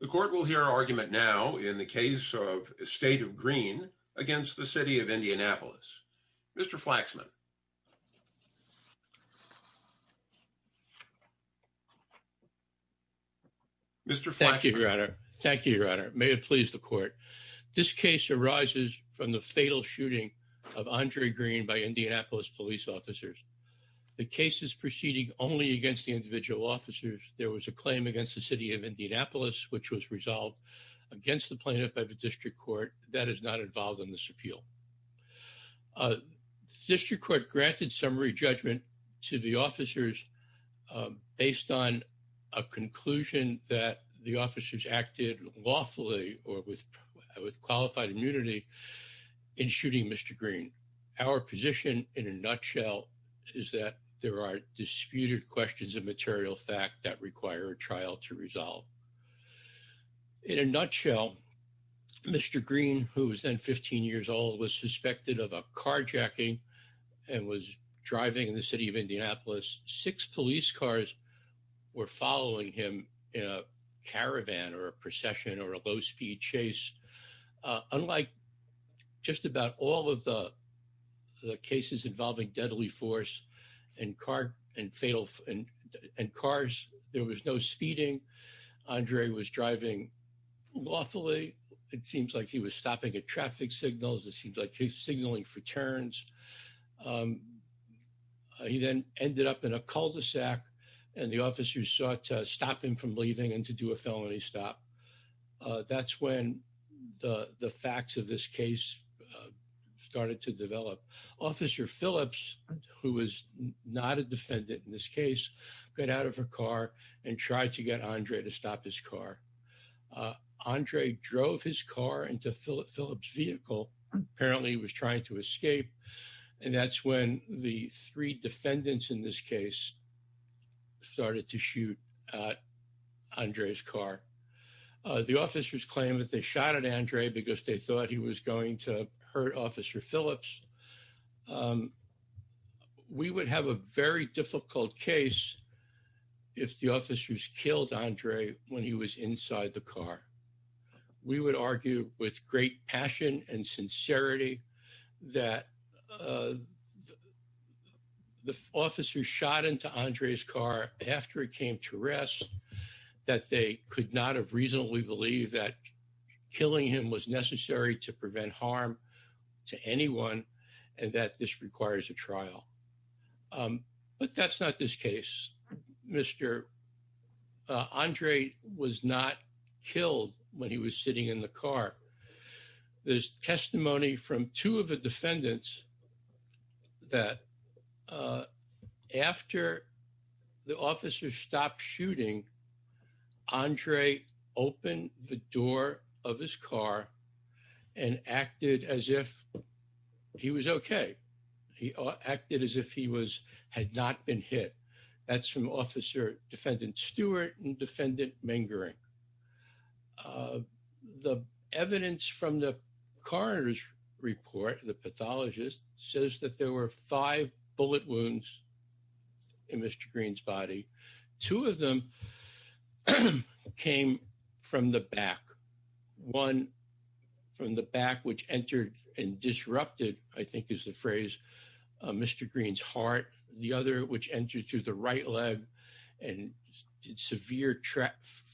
The court will hear argument now in the case of state of green against the city of Indianapolis. Mr. Flaxman. Thank you your honor. Thank you your honor. May it please the court. This case arises from the fatal shooting of Andre Green by Indianapolis police officers. The case is proceeding only against the individual officers. There was a claim against the city of Indianapolis which was resolved against the plaintiff by the district court that is not involved in this appeal. District court granted summary judgment to the officers based on a conclusion that the officers acted lawfully or with with qualified immunity in shooting Mr. Green. Our position in a nutshell is that there are disputed questions of material fact that require a trial to resolve. In a nutshell Mr. Green who was then 15 years old was suspected of a carjacking and was driving in the city of Indianapolis. Six police cars were following him in a just about all of the cases involving deadly force and car and fatal and cars there was no speeding. Andre was driving lawfully. It seems like he was stopping at traffic signals. It seems like he's signaling for turns. He then ended up in a cul-de-sac and the officers sought to stop him from leaving and to do a felony stop. That's when the the facts of this case started to develop. Officer Phillips who was not a defendant in this case got out of her car and tried to get Andre to stop his car. Andre drove his car into Philip's vehicle. Apparently he was trying to escape and that's when the three defendants in this case started to argue with great passion and sincerity that the officers shot into Andre's car after it came to rest that they could not have reasonably believe that killing him was necessary to prevent harm to anyone and that this requires a trial. But that's not this case. Mr. Andre was not killed when he was sitting in the officer stopped shooting. Andre opened the door of his car and acted as if he was okay. He acted as if he was had not been hit. That's from Officer Defendant Stewart and Defendant Mingering. The evidence from the coroner's report, the two of them came from the back. One from the back which entered and disrupted, I think is the phrase, Mr. Green's heart. The other which entered through the right leg and did severe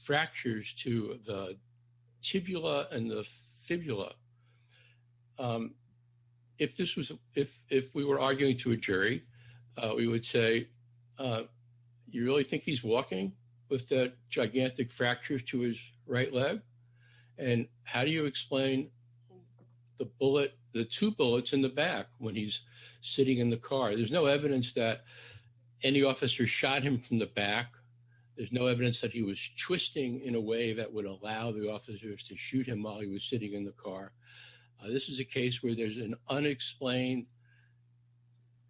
fractures to the tibula and the fibula. If this was if we were arguing to a jury, we would say, you really think he's walking with that gigantic fracture to his right leg? And how do you explain the bullet, the two bullets in the back when he's sitting in the car? There's no evidence that any officer shot him from the back. There's no evidence that he was twisting in a way that would allow the officers to shoot him while he was sitting in the car. This is a case where there's an unexplained,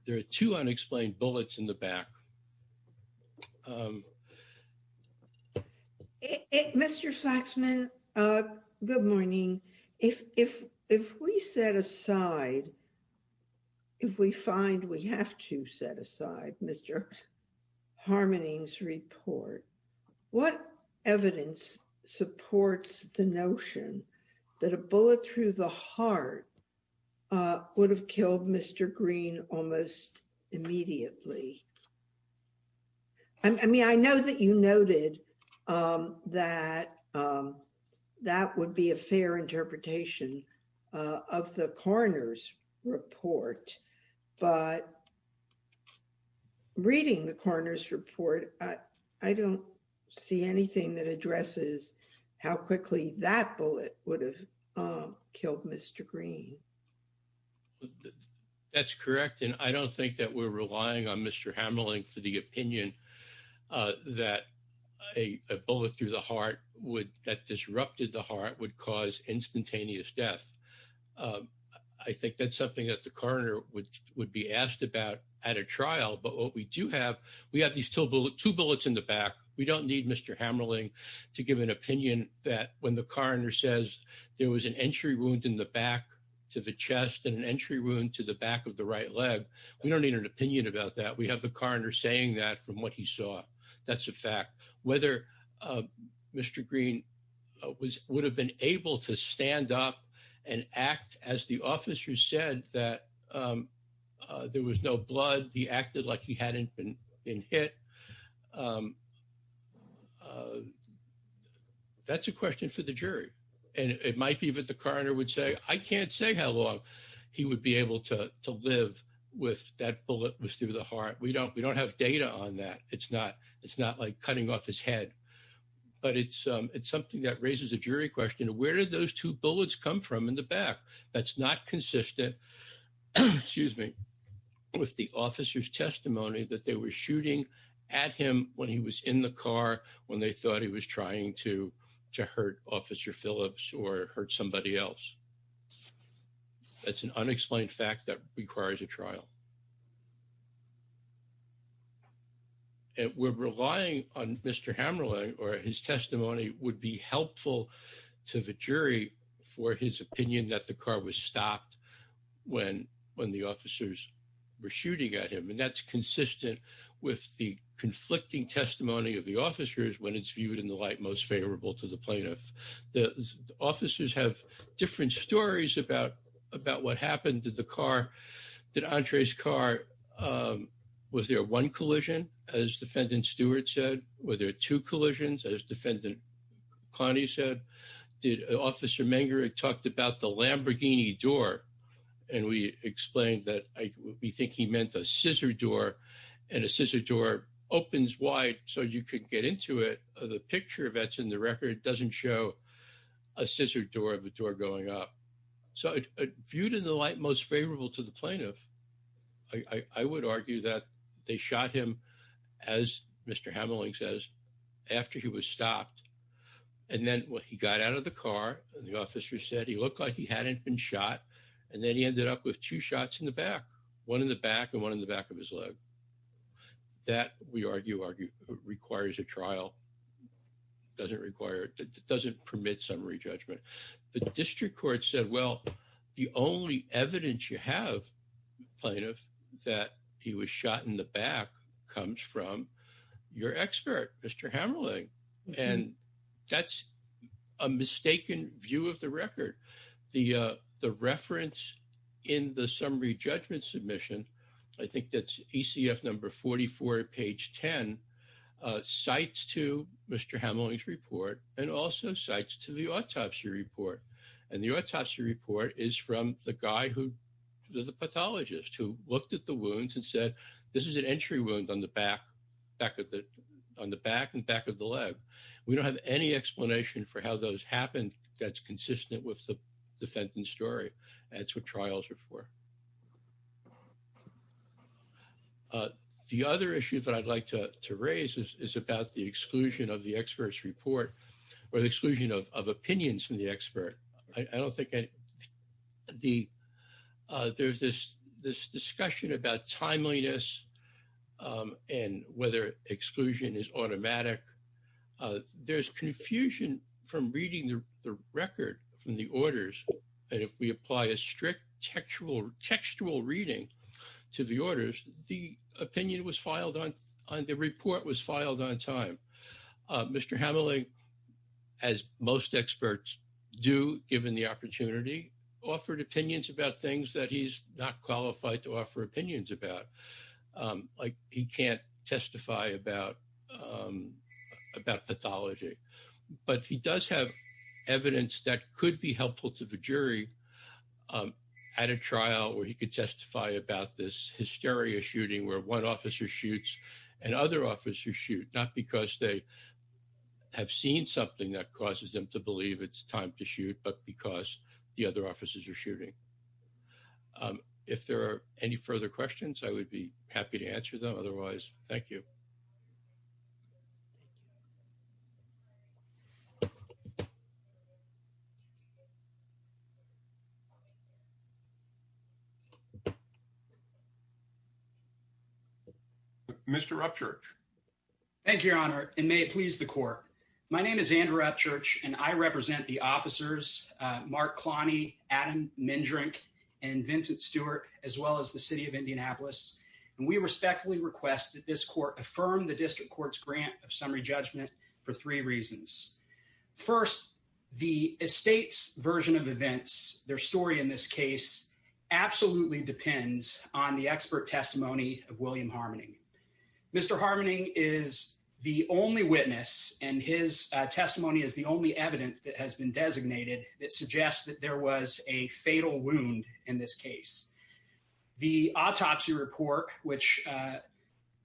there are two unexplained bullets in the back. Mr. Faxman, good morning. If we set aside, if we find we have to set aside Mr. Harmoning's would have killed Mr. Green almost immediately. I mean, I know that you noted that that would be a fair interpretation of the coroner's report. But reading the coroner's report, I don't see anything that addresses how quickly that bullet would have killed Mr. Green. That's correct. And I don't think that we're relying on Mr. Hamerling for the opinion that a bullet through the heart would that disrupted the heart would cause instantaneous death. I think that's something that the coroner would be asked about at a trial. But what we do have, we have these two bullets in the back. We don't need Mr. Hamerling to give an opinion that when the coroner says there was an entry wound in the back to the chest and an entry wound to the back of the right leg, we don't need an opinion about that. We have the coroner saying that from what he saw. That's a fact. Whether Mr. Green would have been able to stand up and act as the officer said that there was no blood, he acted like he hadn't been hit. That's a question for the jury. And it might be that coroner would say, I can't say how long he would be able to live with that bullet was through the heart. We don't have data on that. It's not like cutting off his head. But it's something that raises a jury question. Where did those two bullets come from in the back? That's not consistent with the officer's testimony that they were shooting at him when he was in the car, when they thought he was trying to hurt officer Phillips or hurt somebody else. That's an unexplained fact that requires a trial. And we're relying on Mr. Hamerling or his testimony would be helpful to the jury for his opinion that the car was stopped when the officers were shooting at him. And that's consistent with the conflicting testimony of the officers when it's viewed in the light most favorable to the plaintiff. The officers have different stories about what happened to the car. Did Andre's car, was there one collision, as defendant Stewart said? Were there two collisions, as defendant Connie said? Did officer Mengerich talked about the Lamborghini door? And we explained that we think he meant a scissor door. And a scissor door opens wide so you could get into it. The picture that's in the record doesn't show a scissor door of a door going up. So viewed in the light most favorable to the plaintiff, I would argue that they shot him, as Mr. Hamerling says, after he was stopped. And then when he got out of the car, the officer said he looked like he hadn't been shot. And then he ended up with two shots in the back, one in the back and one in the back of his leg. That, we argue, requires a trial. Doesn't require, doesn't permit summary judgment. The district court said, well, the only evidence you have, plaintiff, that he was shot in the back comes from your expert, Mr. Hamerling. And that's a mistaken view of the record. The reference in the summary judgment submission, I think that's ECF number 44, page 10, cites to Mr. Hamerling's report and also cites to the autopsy report. And the autopsy report is from the guy who is a pathologist who looked at the wounds and said, this is an entry wound on the back, on the back and back of the leg. We don't have any explanation for how those happened that's consistent with the defendant's story. That's what trials are for. The other issue that I'd like to raise is about the exclusion of the expert's report or the exclusion of opinions from the expert. I don't think, there's this discussion about timeliness and whether exclusion is automatic. There's confusion from reading the record from the orders that if we apply a strict textual reading to the orders, the report was filed on time. Mr. Hamerling, as most experts do, given the opportunity, offered opinions about things that he's not qualified to offer opinions about. Like he can't testify about pathology, but he does have evidence that could be helpful to the this hysteria shooting where one officer shoots and other officers shoot, not because they have seen something that causes them to believe it's time to shoot, but because the other officers are shooting. If there are any further questions, I would be happy to answer them. Otherwise, thank you. Mr. Upchurch. Thank you, Your Honor, and may it please the court. My name is Andrew Upchurch, and I represent the officers, Mark Cloney, Adam Mendrink, and Vincent Stewart, as well as the city of Indianapolis. And we respectfully request that this court affirm the district court's grant of summary judgment for three reasons. First, the estate's version of events, their story in this absolutely depends on the expert testimony of William Harmoning. Mr. Harmoning is the only witness, and his testimony is the only evidence that has been designated that suggests that there was a fatal wound in this case. The autopsy report, which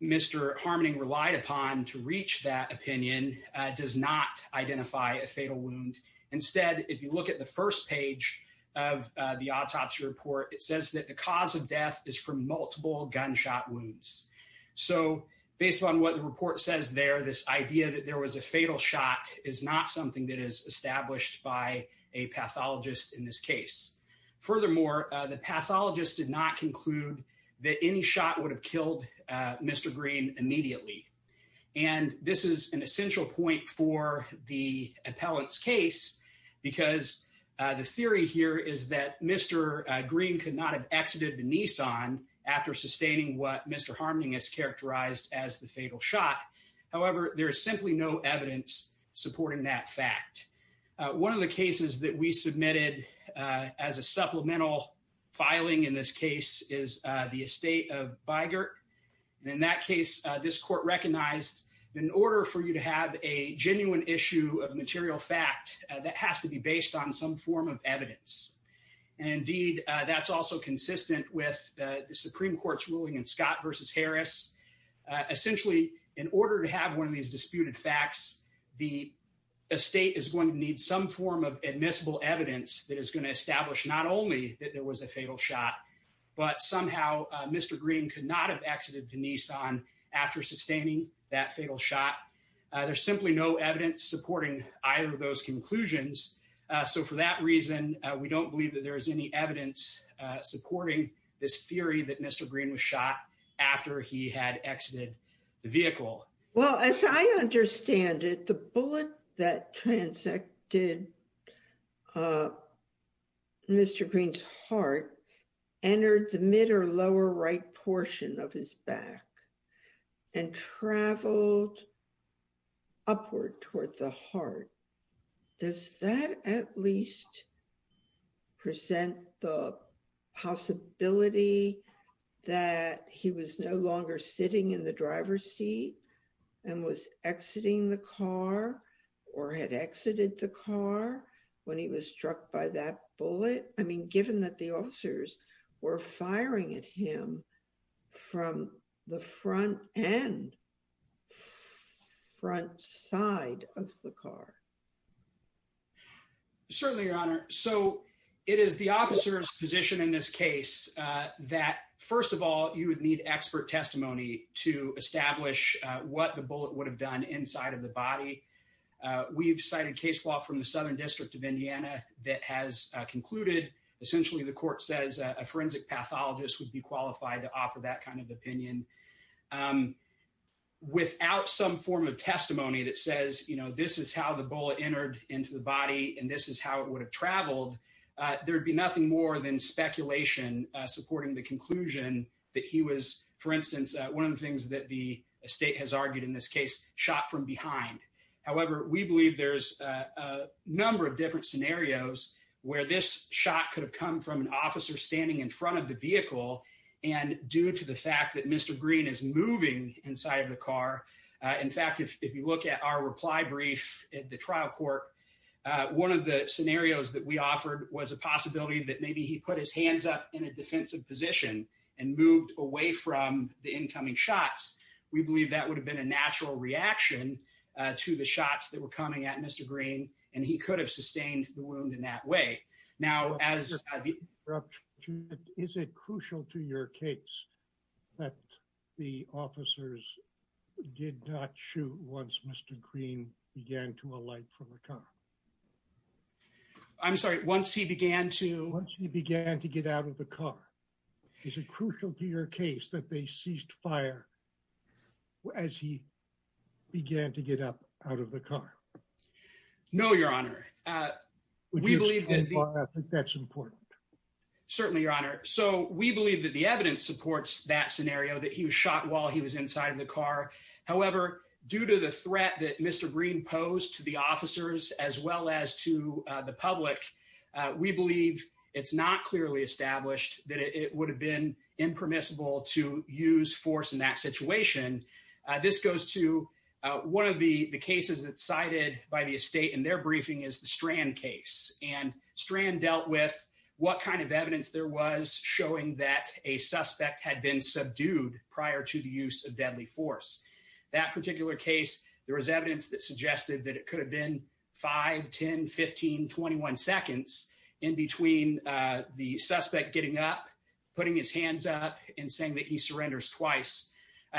Mr. Harmoning relied upon to reach that opinion, does not identify a fatal wound. Instead, if you look at the first page of the autopsy report, it says that the cause of death is from multiple gunshot wounds. So based on what the report says there, this idea that there was a fatal shot is not something that is established by a pathologist in this case. Furthermore, the pathologist did not conclude that any shot would have killed Mr. Green immediately. And this is an essential point for the appellant's case, because the theory here is that Mr. Green could not have exited the Nissan after sustaining what Mr. Harmoning has characterized as the fatal shot. However, there is simply no evidence supporting that fact. One of the cases that we submitted as a supplemental filing in this case is the estate of Bigert. And in that case, this court recognized that in order for you to have a genuine issue of material fact, that has to be based on some form of evidence. And indeed, that's also consistent with the Supreme Court's ruling in Scott v. Harris. Essentially, in order to have one of these disputed facts, the estate is going to need some form of admissible evidence that is going to establish not only that there was a fatal shot, but somehow Mr. Green could not have exited the Nissan after sustaining that fatal shot. There's simply no evidence supporting either of those conclusions. So for that reason, we don't believe that there is any evidence supporting this theory that Mr. Green was shot after he had exited the vehicle. Well, as I understand it, the bullet that transected Mr. Green's heart entered the mid or lower right portion of his back and traveled upward toward the heart. Does that at least present the possibility that he was no longer struck by that bullet? I mean, given that the officers were firing at him from the front end, front side of the car? Certainly, Your Honor. So it is the officer's position in this case that first of all, you would need expert testimony to establish what the bullet would have done inside of the body. We've cited case law from the Southern District of Indiana that has concluded, essentially, the court says a forensic pathologist would be qualified to offer that kind of opinion. Without some form of testimony that says, you know, this is how the bullet entered into the body and this is how it would have traveled, there'd be nothing more than speculation supporting the conclusion that he was, for instance, one of the things that the estate has argued in this case, shot from behind. However, we believe there's a number of different scenarios where this shot could have come from an officer standing in front of the vehicle. And due to the fact that Mr. Green is moving inside of the car, in fact, if you look at our reply brief at the trial court, one of the scenarios that we offered was a possibility that maybe he put his hands up in a defensive position and moved away from the incoming shots. We believe that would have been a natural reaction to the shots that were coming at Mr. Green and he could have sustained the wound in that way. Now, as- Is it crucial to your case that the officers did not shoot once Mr. Green began to alight from the car? I'm sorry, once he began to- Once he began to get out of the car. Is it crucial to your case that they ceased fire as he began to get up out of the car? No, your honor. We believe that's important. Certainly, your honor. So we believe that the evidence supports that scenario that he was shot while he was inside of the car. However, due to the threat that Mr. Green posed to the officers as well as to the public, we believe it's not clearly established that it would have been impermissible to use force in that situation. This goes to one of the cases that's cited by the estate in their briefing is the Strand case. And Strand dealt with what kind of evidence there was showing that a suspect had been subdued prior to the use of deadly force. That particular case, there was evidence that suggested that it could have been 5, 10, 15, 21 seconds in between the suspect getting up, putting his hands up and saying that he surrenders twice.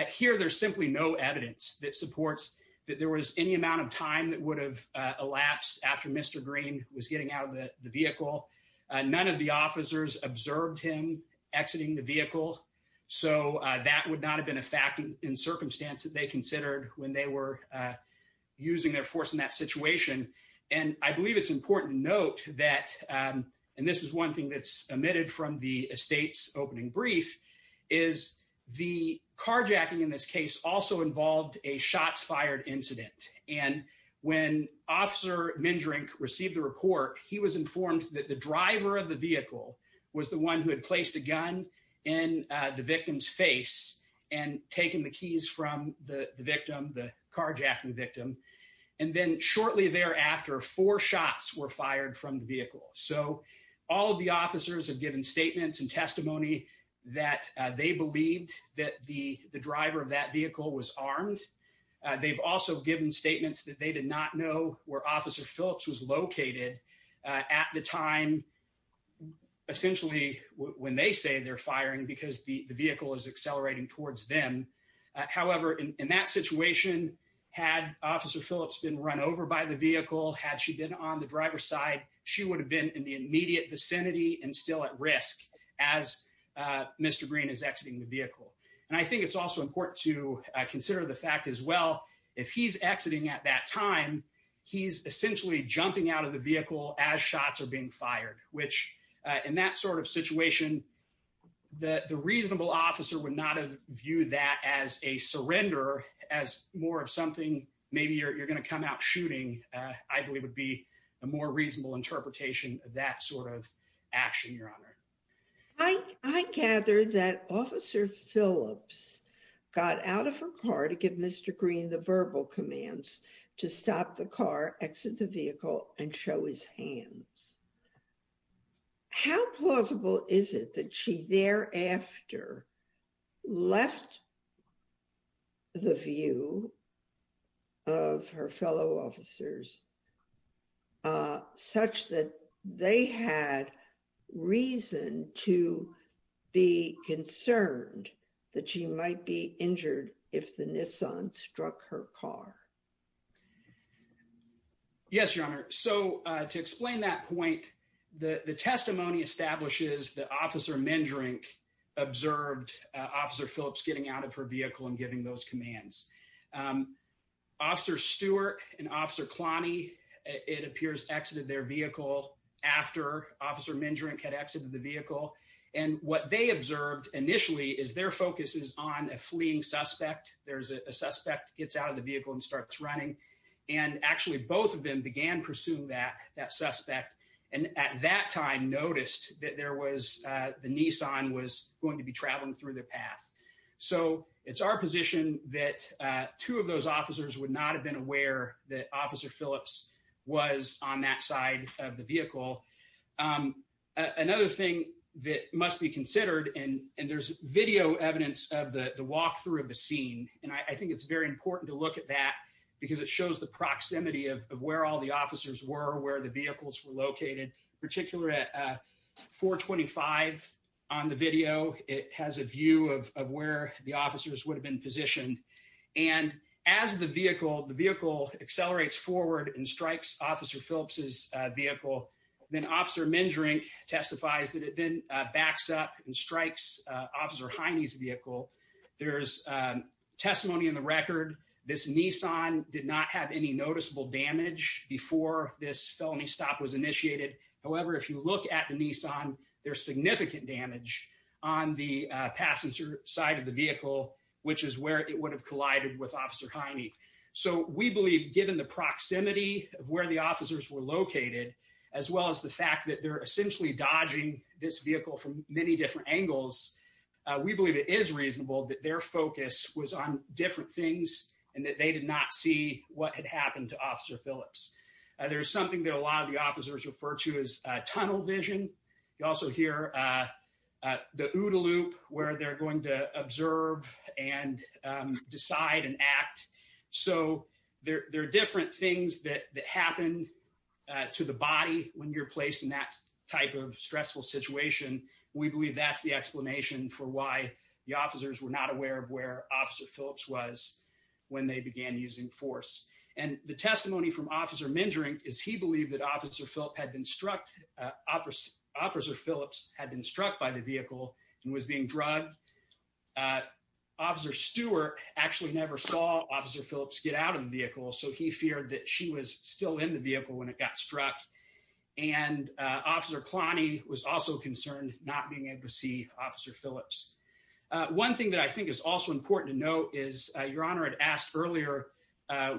Here, there's simply no evidence that supports that there was any amount of time that would have elapsed after Mr. Green was getting out of the vehicle. None of the officers observed him exiting the vehicle. So that would not have been a fact in circumstance that they considered when they were using their force in that situation. And I believe it's important to note that, and this is one thing that's omitted from the estate's opening brief, is the carjacking in this case also involved a shots fired incident. And when Officer Mindrink received the report, he was informed that the driver of the vehicle was the one who had placed a gun in the victim's face and taken the keys from the victim, the carjacking victim. And then shortly thereafter, four shots were fired from the vehicle. So all of the officers have given statements and testimony that they believed that the driver of that vehicle was armed. They've also given statements that they did not know where Officer essentially, when they say they're firing because the vehicle is accelerating towards them. However, in that situation, had Officer Phillips been run over by the vehicle, had she been on the driver's side, she would have been in the immediate vicinity and still at risk as Mr. Green is exiting the vehicle. And I think it's also important to consider the fact as well, if he's exiting at that time, he's essentially jumping out of the vehicle as shots are being fired, which in that sort of situation, the reasonable officer would not have viewed that as a surrender, as more of something, maybe you're going to come out shooting, I believe would be a more reasonable interpretation of that sort of action, Your Honor. I gather that Officer Phillips got out of her car to give Mr. Green the verbal commands to stop the car, exit the vehicle and show his hands. How plausible is it that she thereafter left the view of her fellow officers such that they had reason to be concerned that she might be injured if the Nissan struck her car? Yes, Your Honor. So to explain that point, the testimony establishes that Officer Mendrink observed Officer Phillips getting out of her vehicle and giving those commands. Officer Stewart and Officer Cloney, it appears, exited their vehicle after Officer Mendrink had exited the vehicle. And what they observed initially is their focus is on a fleeing suspect. There's a suspect gets out of the vehicle and starts running. And actually, both of them began pursuing that suspect. And at that time, noticed that there was the Nissan was going to be traveling through the path. So it's our position that two of those officers would not have been aware that Officer Phillips was on that side of the vehicle. Another thing that must be considered, and there's video evidence of the walkthrough of the scene. And I think it's very important to look at that because it shows the proximity of where all the officers were, where the vehicles were located, particularly at 425 on the video. It has a view of where the officers would have been positioned. And as the vehicle accelerates forward and strikes Officer Phillips's vehicle, then Officer Mendrink testifies that it then backs up and strikes Officer Hiney's vehicle. There's testimony in the record. This Nissan did not have any noticeable damage before this felony stop was initiated. However, if you look at the Nissan, there's significant damage on the passenger side of the vehicle, which is where it would have collided with Officer Hiney. So we believe given the proximity of where the officers were located, as well as the fact that they're essentially dodging this vehicle from many different angles, we believe it is reasonable that their focus was on different things and that they did not see what had happened to Officer Phillips. There's something that a lot of the officers refer to as tunnel vision. You also hear the OODA loop where they're going to observe and decide and act. So there are different things that happen to the body when you're placed in that type of stressful situation. We believe that's the explanation for why the officers were not aware of where Officer Phillips was when they began using force. And the testimony from Officer Mendrink is he believed that Officer Phillips had been struck by the vehicle and was being drugged. Officer Stewart actually never saw Officer Phillips get out of the vehicle, so he feared that she was still in the vehicle when it got struck. And Officer Cloney was also concerned not being able to see Officer Phillips. One thing that I think is also important to note is Your Honor had asked earlier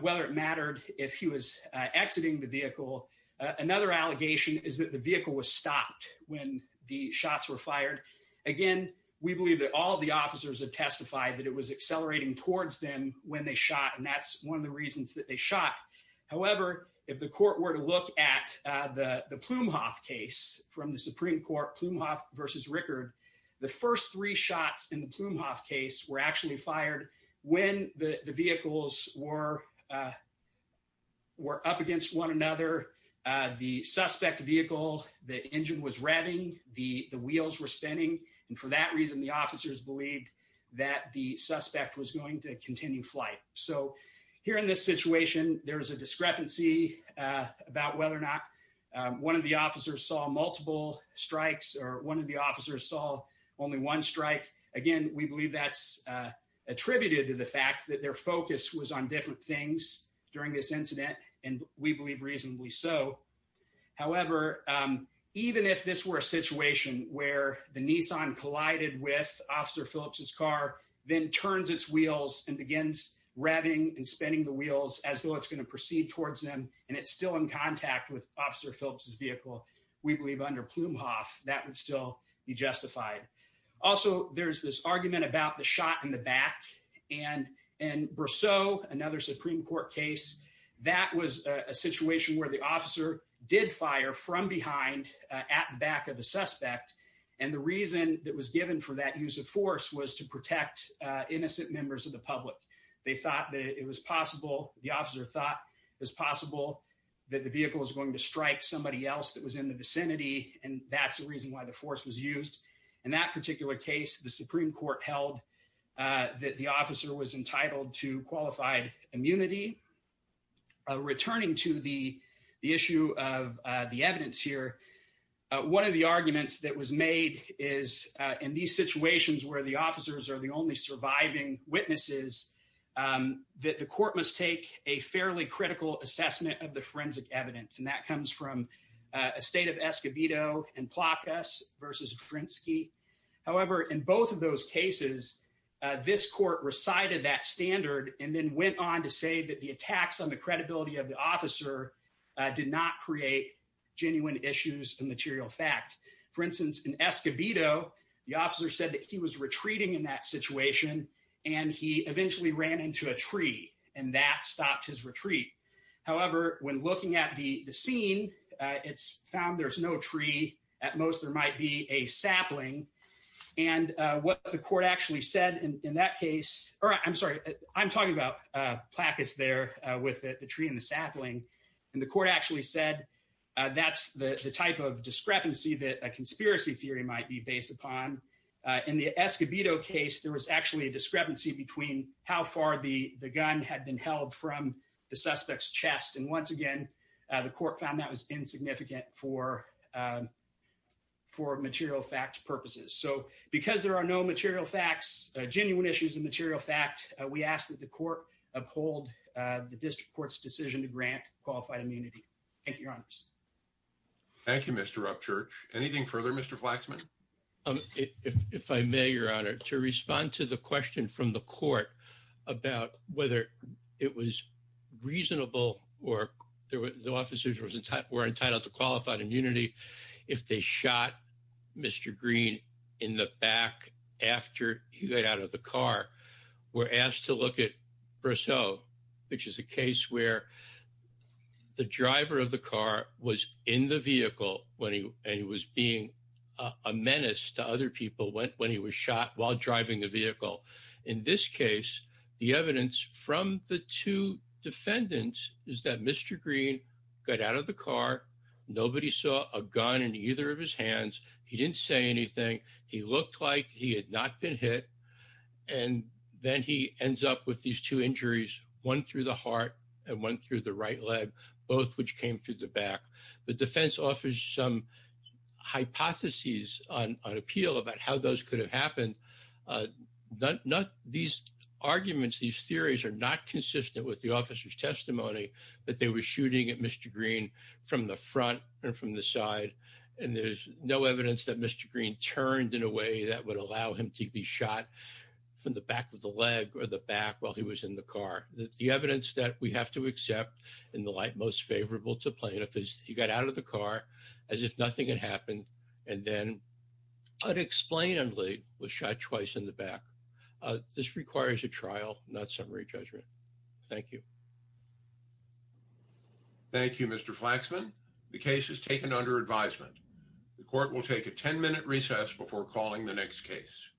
whether it mattered if he was exiting the vehicle. Another allegation is that the vehicle was stopped when the shots were fired. Again, we believe that all of the officers have testified that it was accelerating towards them when they shot, and that's one of the reasons that they shot. However, if the court were to look at the Plumhoff case from the Supreme Court, Plumhoff versus Rickard, the first three shots in the Plumhoff case were actually fired when the vehicles were up against one another. The suspect vehicle, the engine was revving, the wheels were spinning, and for that reason the officers believed that the suspect was going to continue flight. So here in this situation, there's a discrepancy about whether or not one of the officers saw multiple strikes or one of the officers saw only one strike. Again, we believe that's attributed to the fact that their focus was on different things during this incident, and we believe reasonably so. However, even if this were a situation where the Nissan collided with Officer Phillips's car, then turns its wheels and begins revving and spinning the wheels as though it's going to proceed towards them, and it's still in contact with Officer Phillips's vehicle, we believe under Plumhoff that would still be justified. Also, there's this argument about the shot in the back, and in Brosseau, another Supreme Court case, that was a situation where the officer did fire from behind at the back of the suspect, and the reason that was given for that use of force was to protect innocent members of the public. They thought that it was possible, the officer thought it was possible that the vehicle was going to strike somebody else that was in the vicinity, and that's the reason why the force was not used. In that particular case, the Supreme Court held that the officer was entitled to qualified immunity. Returning to the issue of the evidence here, one of the arguments that was made is in these situations where the officers are the only surviving witnesses, that the court must take a fairly critical assessment of the forensic evidence, and that comes from a state of Escobedo and Plakas versus Drinsky. However, in both of those cases, this court recited that standard and then went on to say that the attacks on the credibility of the officer did not create genuine issues of material fact. For instance, in Escobedo, the officer said that he was retreating in that situation, and he eventually ran into a tree, and that stopped his retreat. However, when looking at the scene, it's found there's no tree. At most, there might be a sapling, and what the court actually said in that case, or I'm sorry, I'm talking about Plakas there with the tree and the sapling, and the court actually said that's the type of discrepancy that a conspiracy theory might be based upon. In the Escobedo case, there was actually a discrepancy between how far the court found that was insignificant for material fact purposes. So, because there are no material facts, genuine issues of material fact, we ask that the court uphold the district court's decision to grant qualified immunity. Thank you, Your Honors. Thank you, Mr. Rupchurch. Anything further, Mr. Flaxman? If I may, Your Honor, to respond to the question from the court about whether it was reasonable or the officers were entitled to qualified immunity if they shot Mr. Green in the back after he got out of the car, we're asked to look at Brousseau, which is a case where the driver of the car was in the vehicle, and he was being a menace to other people when he was shot while driving the vehicle. In this case, the evidence from the two defendants is that Mr. Green got out of the car, nobody saw a gun in either of his hands, he didn't say anything, he looked like he had not been hit, and then he ends up with these two injuries, one through the heart and one through the right leg, both which came through the back. The defense offers some hypotheses on appeal about how those could have happened. These arguments, these theories are not consistent with the officer's testimony that they were shooting at Mr. Green from the front and from the side, and there's no evidence that Mr. Green turned in a way that would allow him to be shot from the back of the leg or the back while he was in the car. The evidence that we have to accept in the light most favorable to get out of the car as if nothing had happened, and then unexplainedly was shot twice in the back. This requires a trial, not summary judgment. Thank you. Thank you, Mr. Flaxman. The case is taken under advisement. The court will take a 10-minute recess before calling the next case. Thank you.